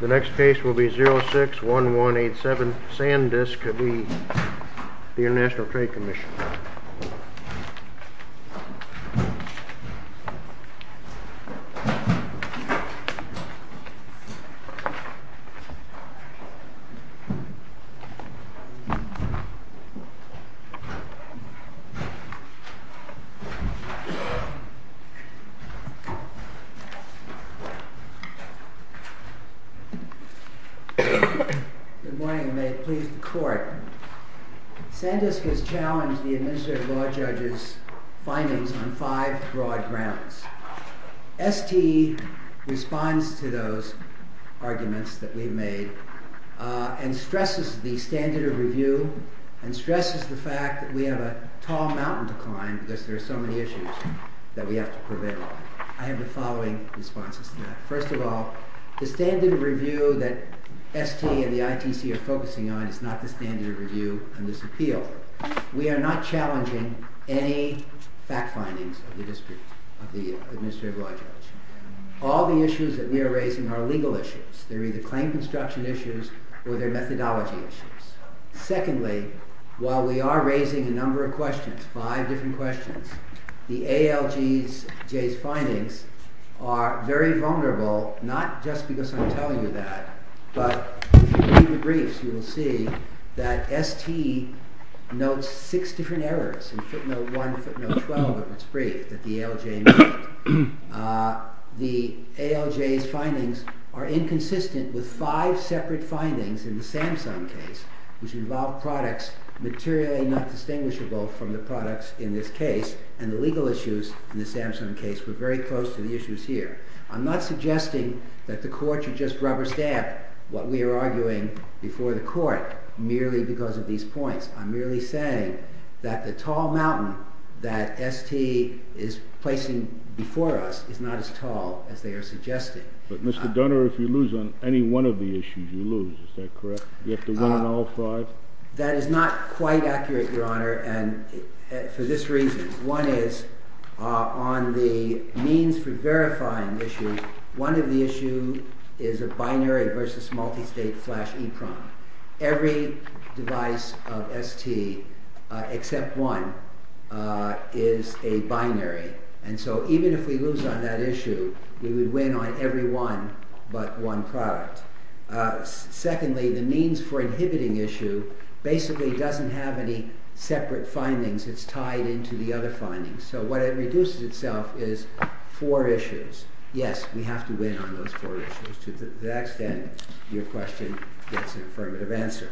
The next case will be 06-1187 Sandisk v. ITC Good morning and may it please the Court. Sandisk has challenged the Administrative Law Judge's findings on five broad grounds. ST responds to those arguments that we've made and stresses the standard of review and stresses the fact that we have a tall mountain to climb because there are so many issues that we have to prevail on. I have the following responses to that. First of all, the standard of review that ST and the ITC are focusing on is not the standard of review on this appeal. We are not challenging any fact findings of the Administrative Law Judge. All the issues that we are raising are legal issues. They're either claim construction issues or they're methodology issues. Secondly, while we are raising a number of questions, five different questions, the ALJ's findings are very vulnerable, not just because I'm telling you that, but if you read the briefs, you will see that ST notes six different errors in footnote 1 and footnote 12 of its brief that the ALJ made. The ALJ's findings are inconsistent with five separate findings in the Samsung case, which involve products materially not distinguishable from the products in this case, and the legal issues in the Samsung case were very close to the issues here. I'm not suggesting that the Court should just rubber stamp what we are arguing before the Court merely because of these points. I'm merely saying that the tall mountain that ST is placing before us is not as tall as they are suggesting. But, Mr. Dunner, if you lose on any one of the issues, you lose. Is that correct? You have to win on all five? That is not quite accurate, Your Honor, for this reason. One is, on the means for verifying issues, one of the issues is a binary versus multistate flash EPROM. Every device of ST, except one, is a binary, and so even if we lose on that issue, we would win on every one but one product. Secondly, the means for inhibiting issue basically doesn't have any separate findings. It's tied into the other findings. So what reduces itself is four issues. Yes, we have to win on those four issues to the extent your question gets an affirmative answer.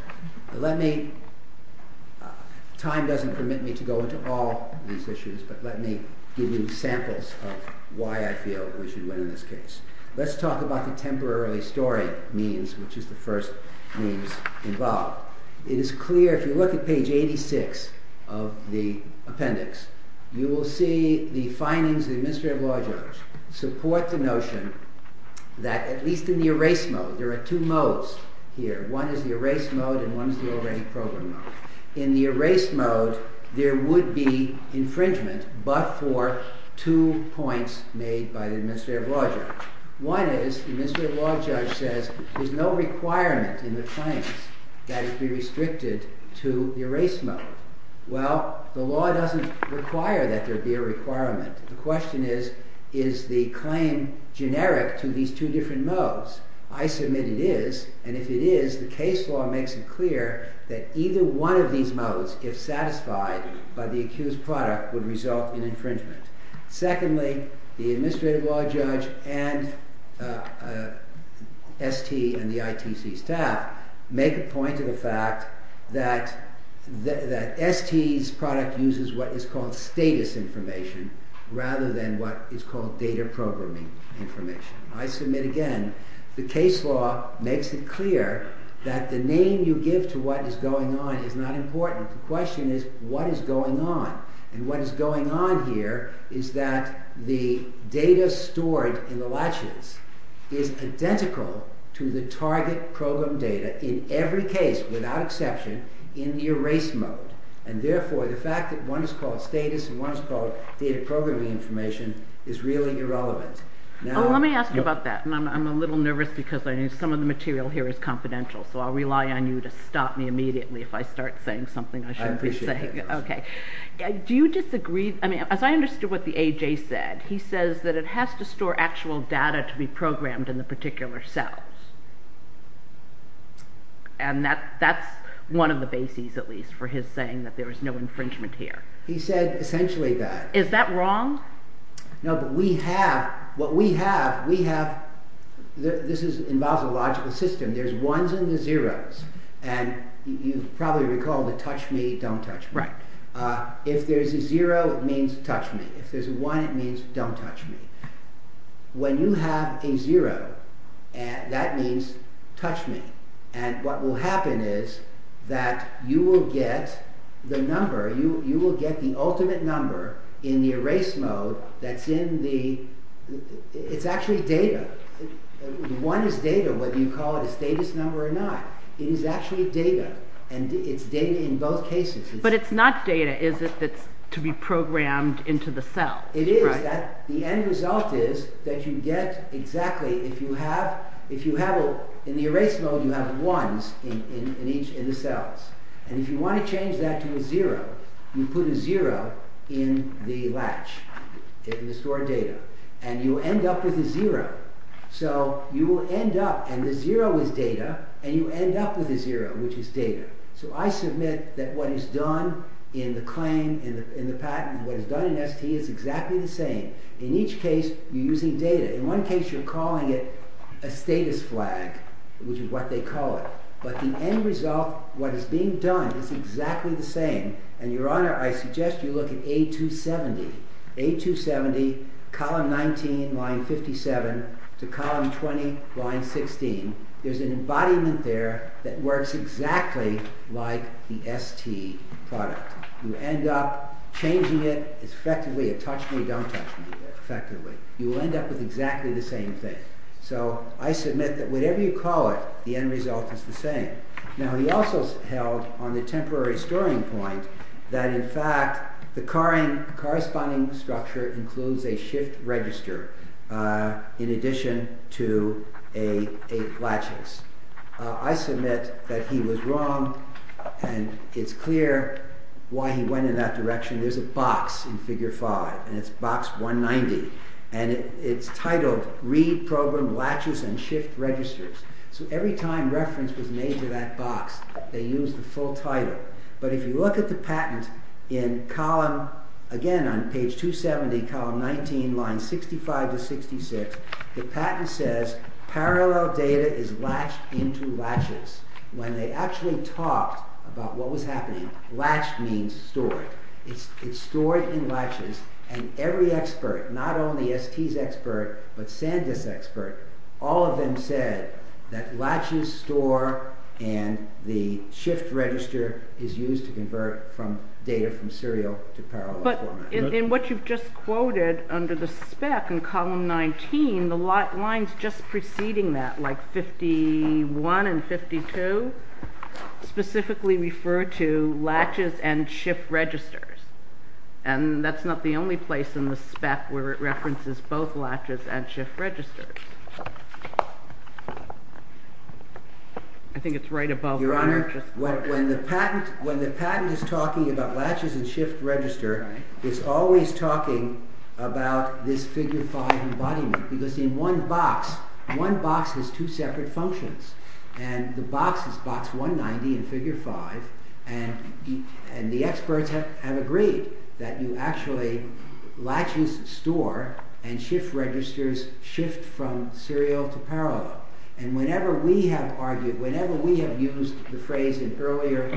Time doesn't permit me to go into all these issues, but let me give you samples of why I feel we should win in this case. Let's talk about the temporarily storing means, which is the first means involved. It is clear, if you look at page 86 of the appendix, you will see the findings of the Administrative Law Judge support the notion that, at least in the erase mode, there are two modes here. One is the erase mode, and one is the already programmed mode. In the erase mode, there would be infringement but for two points made by the Administrative Law Judge. One is, the Administrative Law Judge says, there's no requirement in the claims that it be restricted to the erase mode. Well, the law doesn't require that there be a requirement. The question is, is the claim generic to these two different modes? I submit it is, and if it is, the case law makes it clear that either one of these modes, if satisfied by the accused product, would result in infringement. Secondly, the Administrative Law Judge and ST and the ITC staff make a point of the fact that ST's product uses what is called status information, rather than what is called data programming information. I submit again, the case law makes it clear that the name you give to what is going on is not important. The question is, what is going on? What is going on here is that the data stored in the latches is identical to the target program data in every case, without exception, in the erase mode. Therefore, the fact that one is called status and one is called data programming information is really irrelevant. Let me ask you about that. I'm a little nervous because some of the material here is confidential, so I'll rely on you to stop me immediately if I start saying something I shouldn't be saying. Do you disagree? As I understood what the AJ said, he says that it has to store actual data to be programmed in the particular cells. And that's one of the bases, at least, for his saying that there is no infringement here. He said essentially that. Is that wrong? No, but we have, what we have, we have, this involves a logical system. There's ones and there's zeros. And you probably recall the touch me, don't touch me. If there's a zero, it means touch me. If there's a one, it means don't touch me. When you have a zero, that means touch me. And what will happen is that you will get the number, you will get the ultimate number in the erase mode that's in the, it's actually data. One is data, whether you call it a status number or not. It is actually data, and it's data in both cases. But it's not data, is it, that's to be programmed into the cell? It is. The end result is that you get exactly, if you have, in the erase mode you have ones in each, in the cells. And if you want to change that to a zero, you put a zero in the latch, in the stored data. And you end up with a zero. So you will end up, and the zero is data, and you end up with a zero, which is data. So I submit that what is done in the claim, in the patent, what is done in ST is exactly the same. In each case, you're using data. In one case, you're calling it a status flag, which is what they call it. But the end result, what is being done, is exactly the same. And Your Honor, I suggest you look at A270. A270, column 19, line 57, to column 20, line 16. There's an embodiment there that works exactly like the ST product. You end up changing it. It's effectively a touch-me-don't-touch-me, effectively. You will end up with exactly the same thing. So I submit that whatever you call it, the end result is the same. Now, he also held on the temporary storing point that, in fact, the corresponding structure includes a shift register in addition to a latches. I submit that he was wrong, and it's clear why he went in that direction. There's a box in Figure 5, and it's box 190. And it's titled, Read Program Latches and Shift Registers. So every time reference was made to that box, they used the full title. But if you look at the patent in column, again, on page 270, column 19, line 65 to 66, the patent says, Parallel data is latched into latches. When they actually talked about what was happening, latched means stored. It's stored in latches, and every expert, not only ST's expert, but Sandisk's expert, all of them said that latches store and the shift register is used to convert data from serial to parallel format. But in what you've just quoted under the spec in column 19, the lines just preceding that, like 51 and 52, specifically refer to latches and shift registers. And that's not the only place in the spec where it references both latches and shift registers. I think it's right above. Your Honor, when the patent is talking about latches and shift register, it's always talking about this Figure 5 embodiment. Because in one box, one box has two separate functions. And the box is box 190 in Figure 5, and the experts have agreed that you actually, latches store and shift registers shift from serial to parallel. And whenever we have argued, whenever we have used the phrase in earlier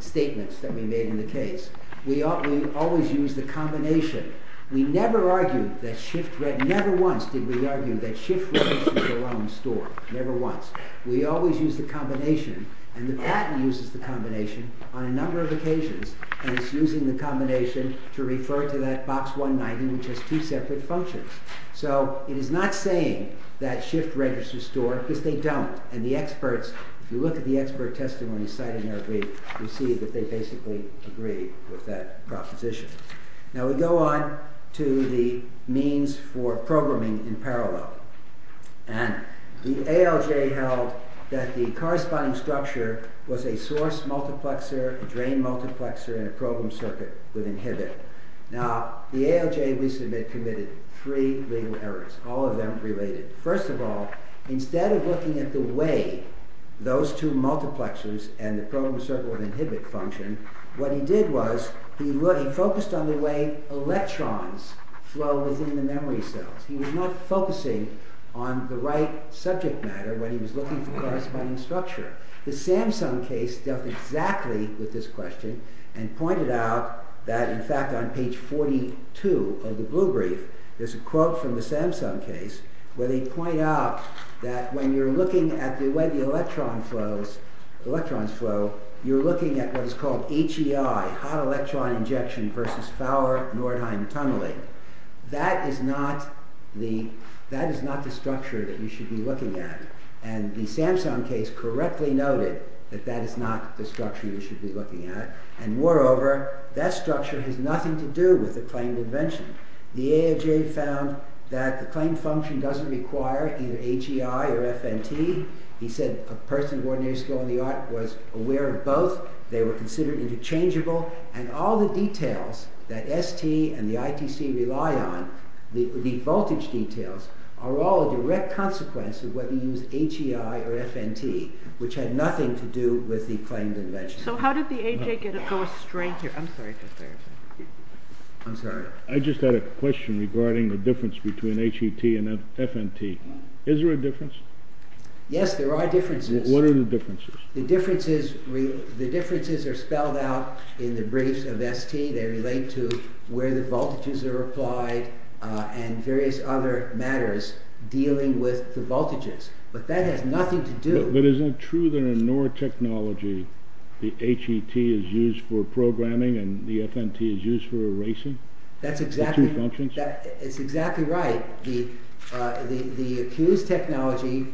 statements that we made in the case, we always use the combination. We never argued that shift, never once did we argue that shift registers alone store. Never once. We always use the combination. And the patent uses the combination on a number of occasions. And it's using the combination to refer to that box 190, which has two separate functions. So it is not saying that shift registers store, because they don't. And the experts, if you look at the expert testimony cited in our brief, you see that they basically agree with that proposition. Now we go on to the means for programming in parallel. And the ALJ held that the corresponding structure was a source multiplexer, a drain multiplexer, and a program circuit with inhibit. Now the ALJ, we submit, committed three legal errors, all of them related. First of all, instead of looking at the way those two multiplexers and the program circuit with inhibit function, what he did was, he focused on the way electrons flow within the memory cells. He was not focusing on the right subject matter when he was looking for corresponding structure. The Samsung case dealt exactly with this question and pointed out that, in fact, on page 42 of the blue brief, there's a quote from the Samsung case where they point out that when you're looking at the way the electrons flow, you're looking at what is called HEI, hot electron injection versus Fowler-Nordheim tunneling. That is not the structure that you should be looking at. And the Samsung case correctly noted that that is not the structure you should be looking at. And moreover, that structure has nothing to do with the claimed invention. The ALJ found that the claimed function doesn't require either HEI or FNT. He said a person of ordinary skill in the art was aware of both. They were considered interchangeable. And all the details that ST and the ITC rely on, the voltage details, are all a direct consequence of whether you use HEI or FNT, which had nothing to do with the claimed invention. So how did the AJ go astray here? I'm sorry. I'm sorry. I just had a question regarding the difference between HET and FNT. Is there a difference? Yes, there are differences. What are the differences? The differences are spelled out in the briefs of ST. They relate to where the voltages are applied and various other matters dealing with the voltages. But that has nothing to do… But isn't it true that in NOR technology, the HET is used for programming and the FNT is used for erasing? That's exactly right. The accused technology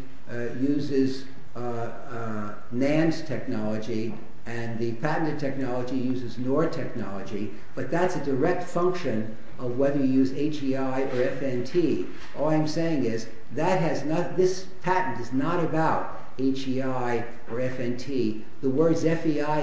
uses NAND technology and the patented technology uses NOR technology, but that's a direct function of whether you use HEI or FNT. All I'm saying is this patent is not about HEI or FNT. The words HEI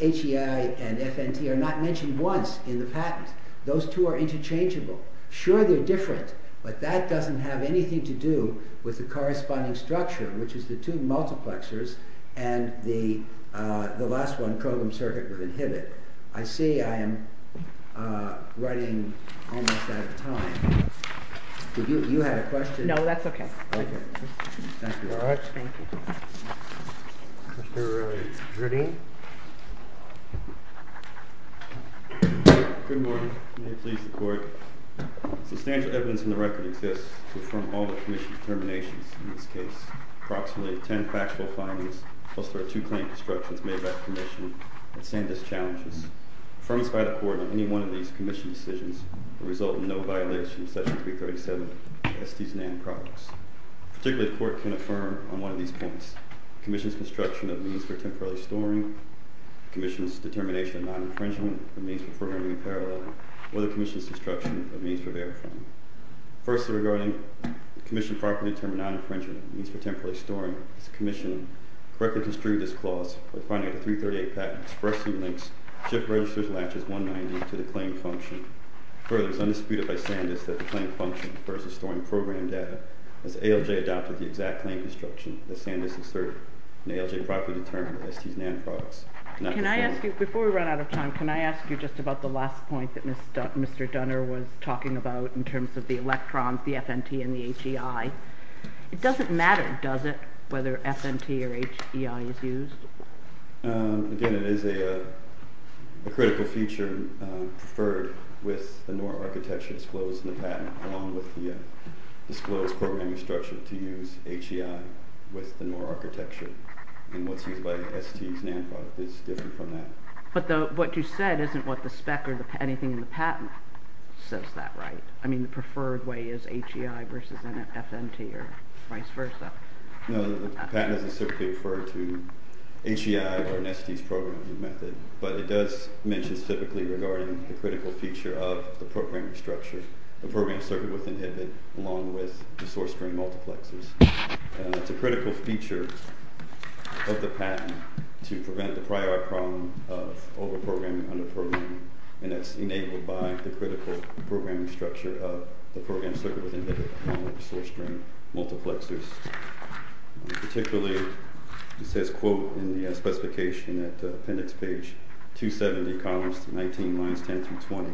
and FNT are not mentioned once in the patent. Those two are interchangeable. Sure, they're different, but that doesn't have anything to do with the corresponding structure, which is the two multiplexers and the last one, Kogom circuit with inhibit. I see I am running almost out of time. Did you have a question? No, that's okay. Okay. Thank you very much. Thank you. Good morning. May it please the Court. Substantial evidence in the record exists to affirm all the Commission's determinations in this case. Approximately 10 factual findings, plus there are two claim constructions made by the Commission that stand as challenges. Affirmance by the Court on any one of these Commission decisions will result in no violation of Section 337 of the Estes and NAND products. Particularly, the Court can affirm on one of these points. The Commission's construction of means for temporarily storing, the Commission's determination of non-infringement of means for programming in parallel, or the Commission's construction of means for verifying. Firstly, regarding the Commission properly determining non-infringement of means for temporarily storing, the Commission correctly construed this clause by finding that the 338 patent expressly links SHIP registers and latches 190 to the claim function. Further, it was undisputed by Sandus that the claim function refers to storing program data, as ALJ adopted the exact claim construction that Sandus asserted, and ALJ properly determined the Estes and NAND products. Can I ask you, before we run out of time, can I ask you just about the last point that Mr. Dunner was talking about in terms of the electrons, the FNT and the HEI. It doesn't matter, does it, whether FNT or HEI is used? Again, it is a critical feature preferred with the NOR architecture disclosed in the patent, along with the disclosed programming structure to use HEI with the NOR architecture and what's used by the Estes NAND product is different from that. But what you said isn't what the spec or anything in the patent says that, right? I mean, the preferred way is HEI versus FNT or vice versa. No, the patent doesn't specifically refer to HEI or an Estes programming method, but it does mention specifically regarding the critical feature of the programming structure, the programming circuit within HIPAA, along with the source string multiplexers. It's a critical feature of the patent to prevent the prior problem of over-programming, under-programming, and that's enabled by the critical programming structure of the programming circuit within HIPAA, along with the source string multiplexers. Particularly, it says, quote, in the specification at appendix page 270, columns 19, lines 10 through 20,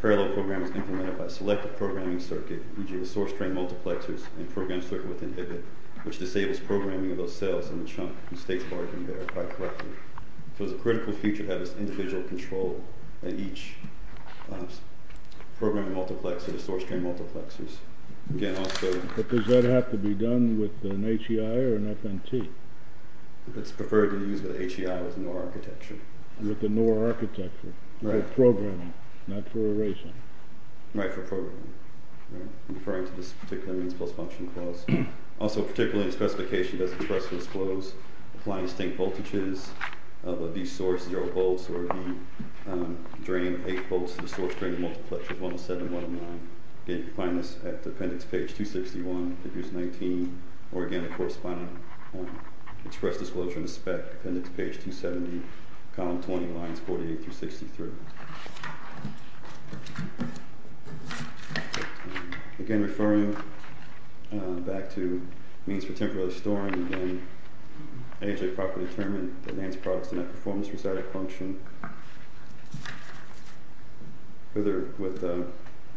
parallel program is implemented by selected programming circuit, e.g., the source string multiplexers, and program circuit within HIPAA, which disables programming of those cells in the chunk and states what are being verified correctly. So it's a critical feature to have this individual control in each programming multiplexer, the source string multiplexers. Again, also— But does that have to be done with an HEI or an FNT? It's preferred to use with HEI with NOR architecture. With the NOR architecture. Right. For programming, not for erasing. Right, for programming. I'm referring to this particular means-plus-function clause. Also, particularly in the specification, does the compressor disclose applying distinct voltages of a B source, 0 volts, or a B drain, 8 volts, to the source string multiplexers, 107, 109. Again, you can find this at appendix page 261, if you use 19, or again, the corresponding express disclosure in the spec, appendix page 270, column 20, lines 48 through 63. Again, referring back to means for temporary storing, again, AHA properly determined that NAND products do not perform this recitic function. Further, with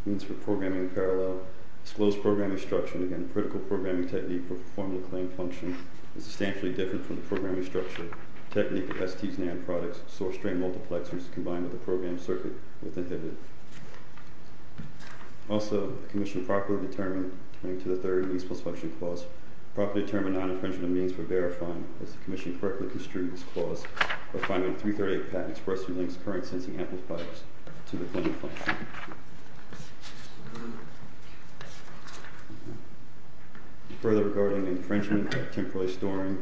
means for programming in parallel, disclosed programming instruction, again, critical programming technique for formula claim function, is substantially different from the programming structure. Technique of ST's NAND products, source string multiplexers, combined with the program circuit with inhibitor. Also, the commission properly determined, referring to the third means-plus-function clause, properly determined non-infringement of means for verifying if the commission correctly construed this clause, or finding 338-PAT expressly links current-sensing amplifiers to the claim function. Further, regarding infringement of temporary storing,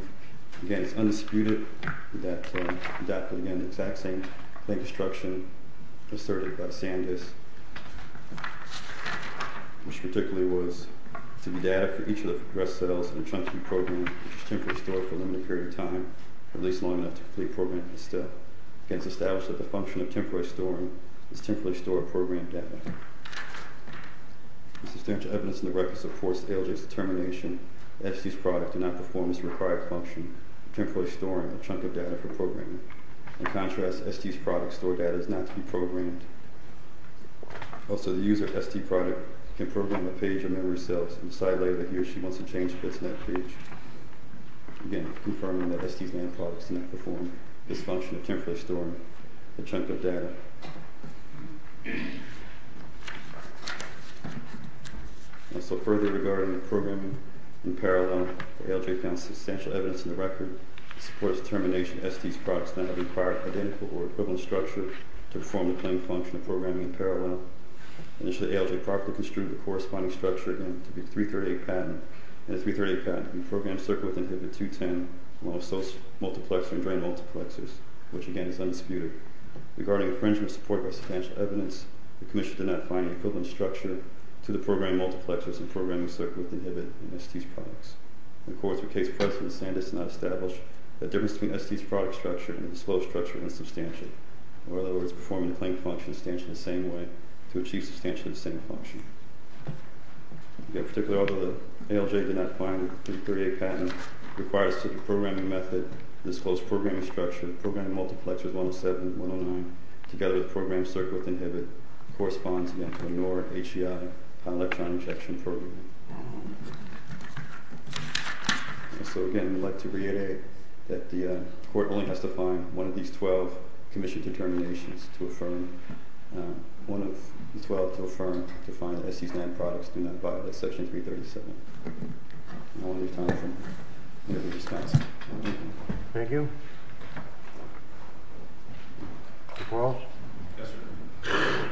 again, it's undisputed that, again, the exact same thing as the instruction asserted by Sandus, which particularly was to be data for each of the progressed cells in chunks of the program, which is temporarily stored for a limited period of time, at least long enough to complete programming still. Again, it's established that the function of temporary storing is temporarily stored program data. The substantial evidence in the record supports ALJ's determination that ST's products do not perform this required function, temporarily storing a chunk of data for programming. In contrast, ST's product store data is not to be programmed. Also, the user of ST product can program a page of memory cells in the side layer that he or she wants to change if it's not page. Again, confirming that ST's land products do not perform this function of temporarily storing a chunk of data. Also, further regarding the programming in parallel, ALJ found substantial evidence in the record that supports determination that ST's products do not require identical or equivalent structure to perform the claimed function of programming in parallel. Initially, ALJ properly construed the corresponding structure, again, to be a 338 patent. And the 338 patent can be programmed to circle within HIBIT210, one of those multiplexer and drain multiplexers, which, again, is undisputed. Regarding infringement support by substantial evidence, the commission did not find an equivalent structure to the programmed multiplexers and programming circle within HIBIT and ST's products. In court, through case precedent, the stand is not established. The difference between ST's product structure and the disclosed structure is insubstantial. In other words, performing the claimed function stands in the same way to achieve substantially the same function. In particular, although ALJ did not find a 338 patent, it requires that the programming method, the disclosed programming structure, the programmed multiplexers 107 and 109, together with the programmed circle within HIBIT, corresponds, again, to a NOR, HEI, electron injection program. And so, again, we'd like to reiterate that the court only has to find one of these 12 commissioned determinations to affirm, one of the 12 to affirm, to find that ST's land products do not violate Section 337. And I want to leave time for the other responses. Thank you. Mr. Quarles? Yes, sir.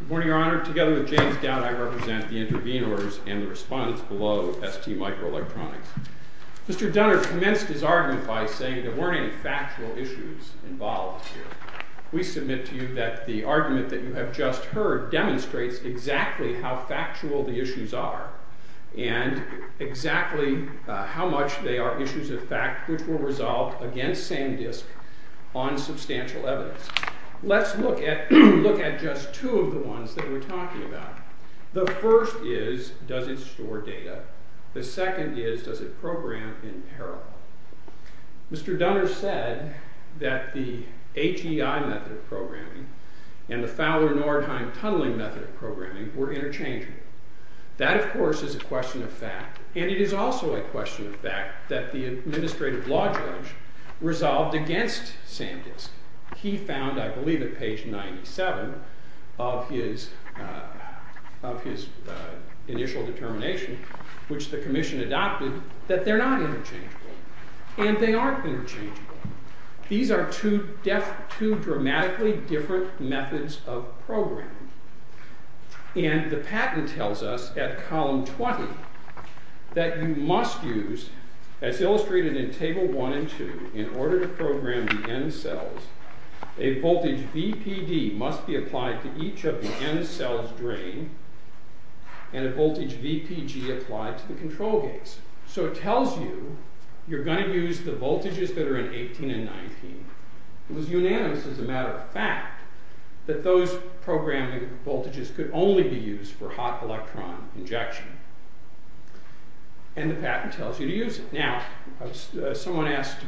Good morning, Your Honor. Together with James Dowd, I represent the intervene orders and the respondents below ST Microelectronics. Mr. Dunner commenced his argument by saying there weren't any factual issues involved here. We submit to you that the argument that you have just heard demonstrates exactly how factual the issues are and exactly how much they are issues of fact which were resolved against same disk on substantial evidence. Let's look at just two of the ones that we're talking about. The first is, does it store data? The second is, does it program in parallel? Mr. Dunner said that the HEI method of programming and the Fowler-Nordheim tunneling method of programming were interchanging. That, of course, is a question of fact, and it is also a question of fact that the administrative law judge resolved against same disk. He found, I believe, at page 97 of his initial determination, which the commission adopted, that they're not interchangeable. And they aren't interchangeable. These are two dramatically different methods of programming. And the patent tells us at column 20 that you must use, as illustrated in table 1 and 2, in order to program the N-cells, a voltage VPD must be applied to each of the N-cells drained and a voltage VPG applied to the control gates. So it tells you you're going to use the voltages that are in 18 and 19. It was unanimous as a matter of fact that those programming voltages could only be used for hot electron injection. And the patent tells you to use it. Now, someone asked,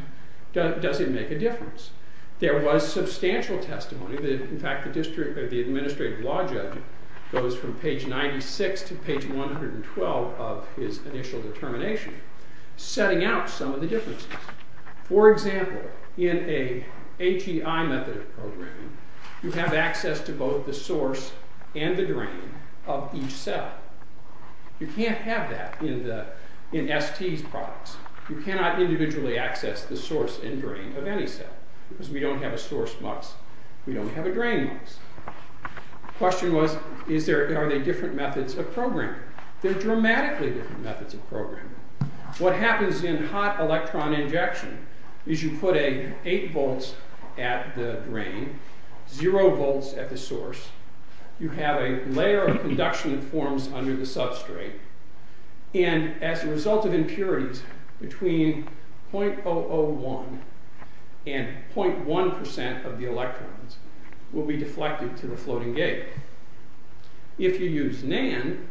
does it make a difference? There was substantial testimony. In fact, the administrative law judge goes from page 96 to page 112 of his initial determination, setting out some of the differences. For example, in a HEI method of programming, you have access to both the source and the drain of each cell. You can't have that in ST's products. You cannot individually access the source and drain of any cell because we don't have a source MUX. We don't have a drain MUX. The question was, are they different methods of programming? They're dramatically different methods of programming. What happens in hot electron injection is you put an 8 volts at the drain, 0 volts at the source. You have a layer of conduction that forms under the substrate. And as a result of impurities, between 0.001 and 0.1% of the electrons will be deflected to the floating gate. If you use NAND,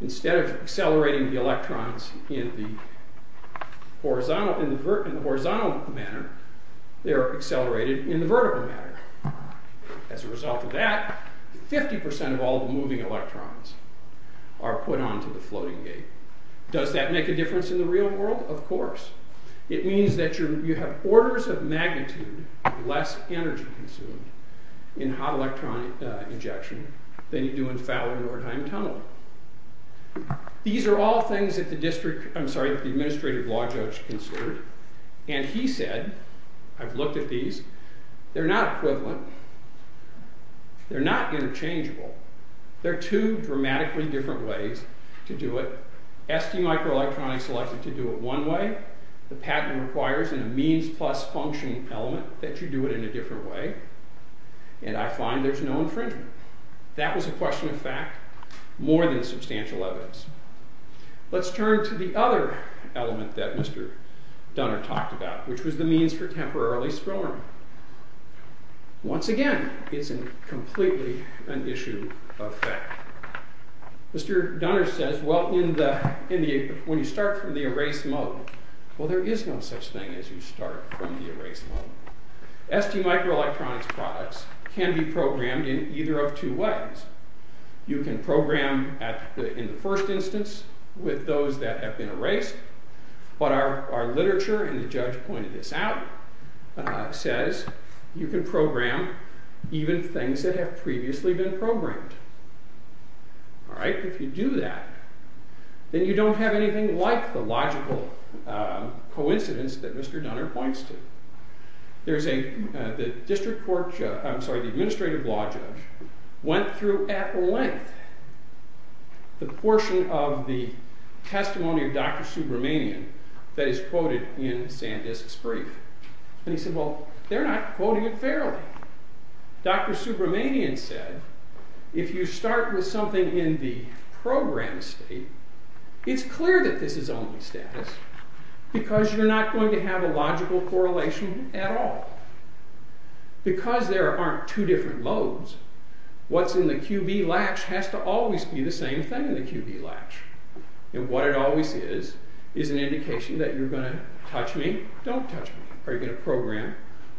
instead of accelerating the electrons in the horizontal manner, they are accelerated in the vertical manner. As a result of that, 50% of all the moving electrons are put onto the floating gate. Does that make a difference in the real world? Of course. It means that you have orders of magnitude less energy consumed in hot electron injection than you do in Fowler-Nordheim tunneling. These are all things that the administrative law judge considered. And he said, I've looked at these, they're not equivalent. They're not interchangeable. They're two dramatically different ways to do it. ST microelectronics likes to do it one way. The patent requires a means plus function element that you do it in a different way. And I find there's no infringement. That was a question of fact, more than substantial evidence. Let's turn to the other element that Mr. Dunner talked about, which was the means for temporarily swirling. Once again, it's completely an issue of fact. Mr. Dunner says, well, when you start from the erase mode, well, there is no such thing as you start from the erase mode. ST microelectronics products can be programmed in either of two ways. You can program in the first instance with those that have been erased, but our literature, and the judge pointed this out, says you can program even things that have previously been programmed. If you do that, then you don't have anything like the logical coincidence that Mr. Dunner points to. The administrative law judge went through at length the portion of the testimony of Dr. Subramanian that is quoted in Sandisk's brief. And he said, well, they're not quoting it fairly. Dr. Subramanian said, if you start with something in the program state, it's clear that this is only status because you're not going to have a logical correlation at all. Because there aren't two different modes, what's in the QB latch has to always be the same thing in the QB latch. And what it always is, is an indication that you're going to touch me, don't touch me. Are you going to program,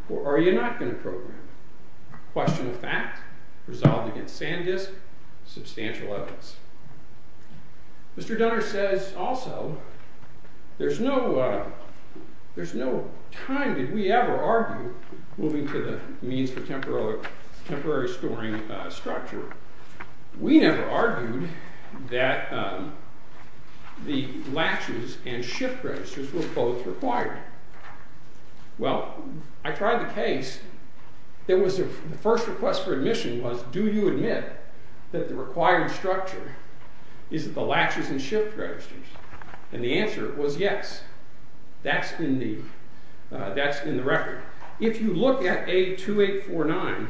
or are you not going to program? Question of fact, resolved against Sandisk, substantial evidence. Mr. Dunner says also, there's no time did we ever argue moving to the means for temporary storing structure. We never argued that the latches and shift registers were both required. Well, I tried the case. The first request for admission was, do you admit that the required structure is the latches and shift registers? And the answer was yes. That's in the record. If you look at A2849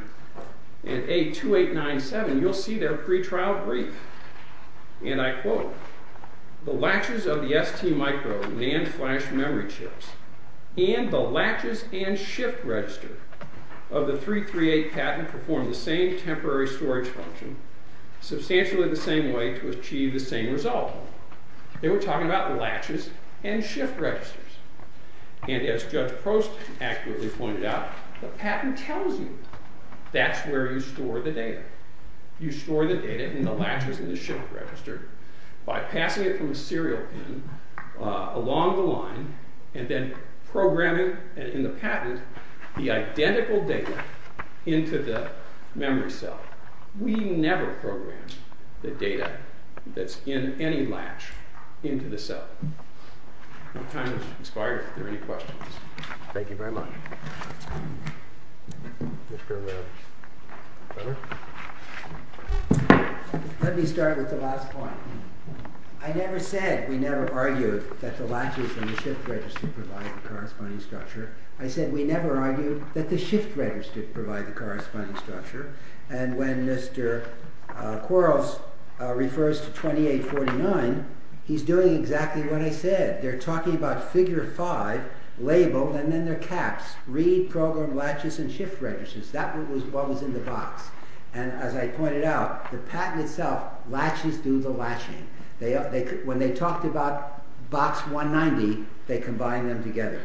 and A2897, you'll see their pre-trial brief. And I quote, the latches of the ST micro and flash memory chips and the latches and shift register of the 338 patent perform the same temporary storage function, substantially the same way to achieve the same result. They were talking about latches and shift registers. And as Judge Prost accurately pointed out, the patent tells you that's where you store the data. You store the data in the latches and the shift register by passing it from a serial pin along the line and then programming in the patent the identical data into the memory cell. We never program the data that's in any latch into the cell. My time has expired. If there are any questions. Thank you very much. Let me start with the last point. I never said we never argued that the latches and the shift register provide the corresponding structure. I said we never argued that the shift register provided the corresponding structure. And when Mr. Quarles refers to 2849, he's doing exactly what I said. They're talking about figure five labeled and then their caps. Read program latches and shift registers. That was what was in the box. And as I pointed out, the patent itself, latches do the latching. When they talked about box 190, they combined them together.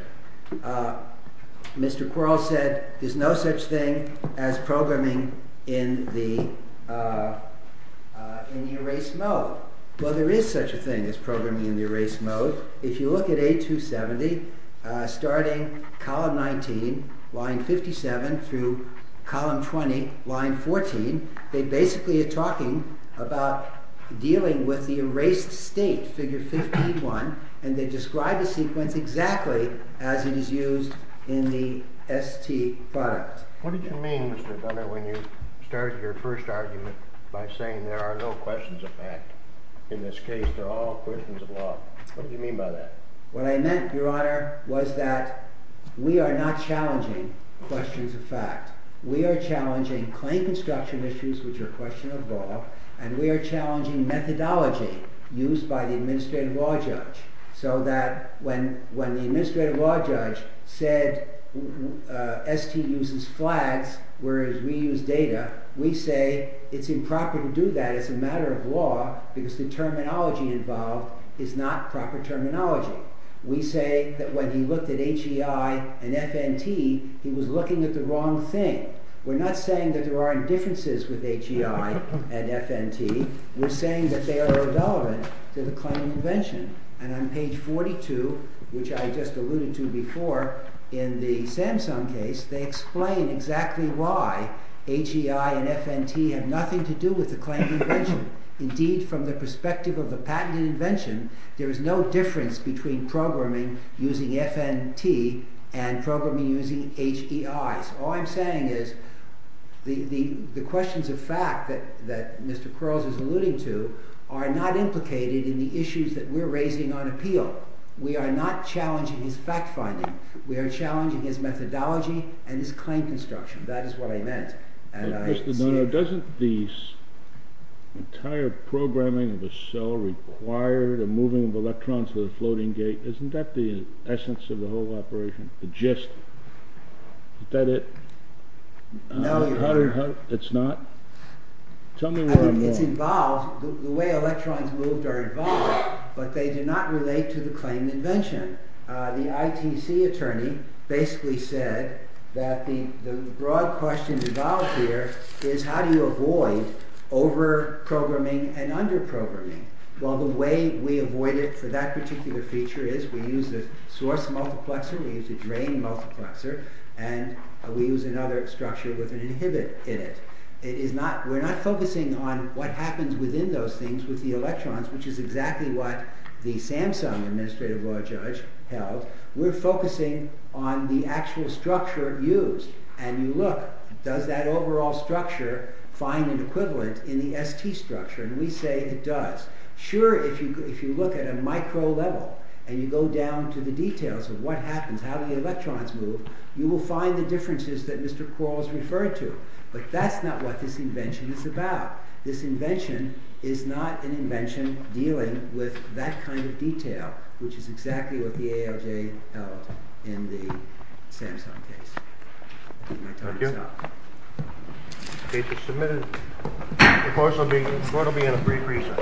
Mr. Quarles said there's no such thing as programming in the erased mode. Well, there is such a thing as programming in the erased mode. If you look at A270, starting column 19, line 57, through column 20, line 14, they basically are talking about dealing with the erased state, figure 51. And they describe the sequence exactly as it is used in the ST product. What did you mean, Mr. Dunner, when you started your first argument by saying there are no questions of fact? In this case, they're all questions of law. What did you mean by that? What I meant, Your Honor, was that we are not challenging questions of fact. We are challenging claim construction issues, which are a question of law. And we are challenging methodology used by the administrative law judge, so that when the administrative law judge said ST uses flags, whereas we use data, we say it's improper to do that. It's a matter of law, because the terminology involved is not proper terminology. We say that when he looked at HEI and FNT, he was looking at the wrong thing. We're not saying that there aren't differences with HEI and FNT. We're saying that they are irrelevant to the claim convention. And on page 42, which I just alluded to before, in the Samsung case, they explain exactly why HEI and FNT have nothing to do with the claim convention. Indeed, from the perspective of the patent and invention, there is no difference between programming using FNT and programming using HEI. All I'm saying is the questions of fact that Mr. Quarles is alluding to are not implicated in the issues that we're raising on appeal. We are not challenging his fact finding. We are challenging his methodology and his claim construction. That is what I meant. Doesn't the entire programming of a cell require the moving of electrons to the floating gate? Isn't that the essence of the whole operation, the gist? Is that it? No, Your Honor. It's not? Tell me what I'm wrong. It's involved. The way electrons moved are involved. But they do not relate to the claim invention. The ITC attorney basically said that the broad question involved here is how do you avoid over-programming and under-programming? Well, the way we avoid it for that particular feature is we use a source multiplexer. We use a drain multiplexer. And we use another structure with an inhibit in it. We're not focusing on what happens within those things with the electrons, which is exactly what the Samsung Administrative Law Judge held. We're focusing on the actual structure used. And you look, does that overall structure find an equivalent in the ST structure? And we say it does. Sure, if you look at a micro level and you go down to the details of what happens, how the electrons move, you will find the differences that Mr. Quarles referred to. But that's not what this invention is about. This invention is not an invention dealing with that kind of detail, which is exactly what the ALJ held in the Samsung case. Thank you. The case is submitted. The court will be in a brief recess.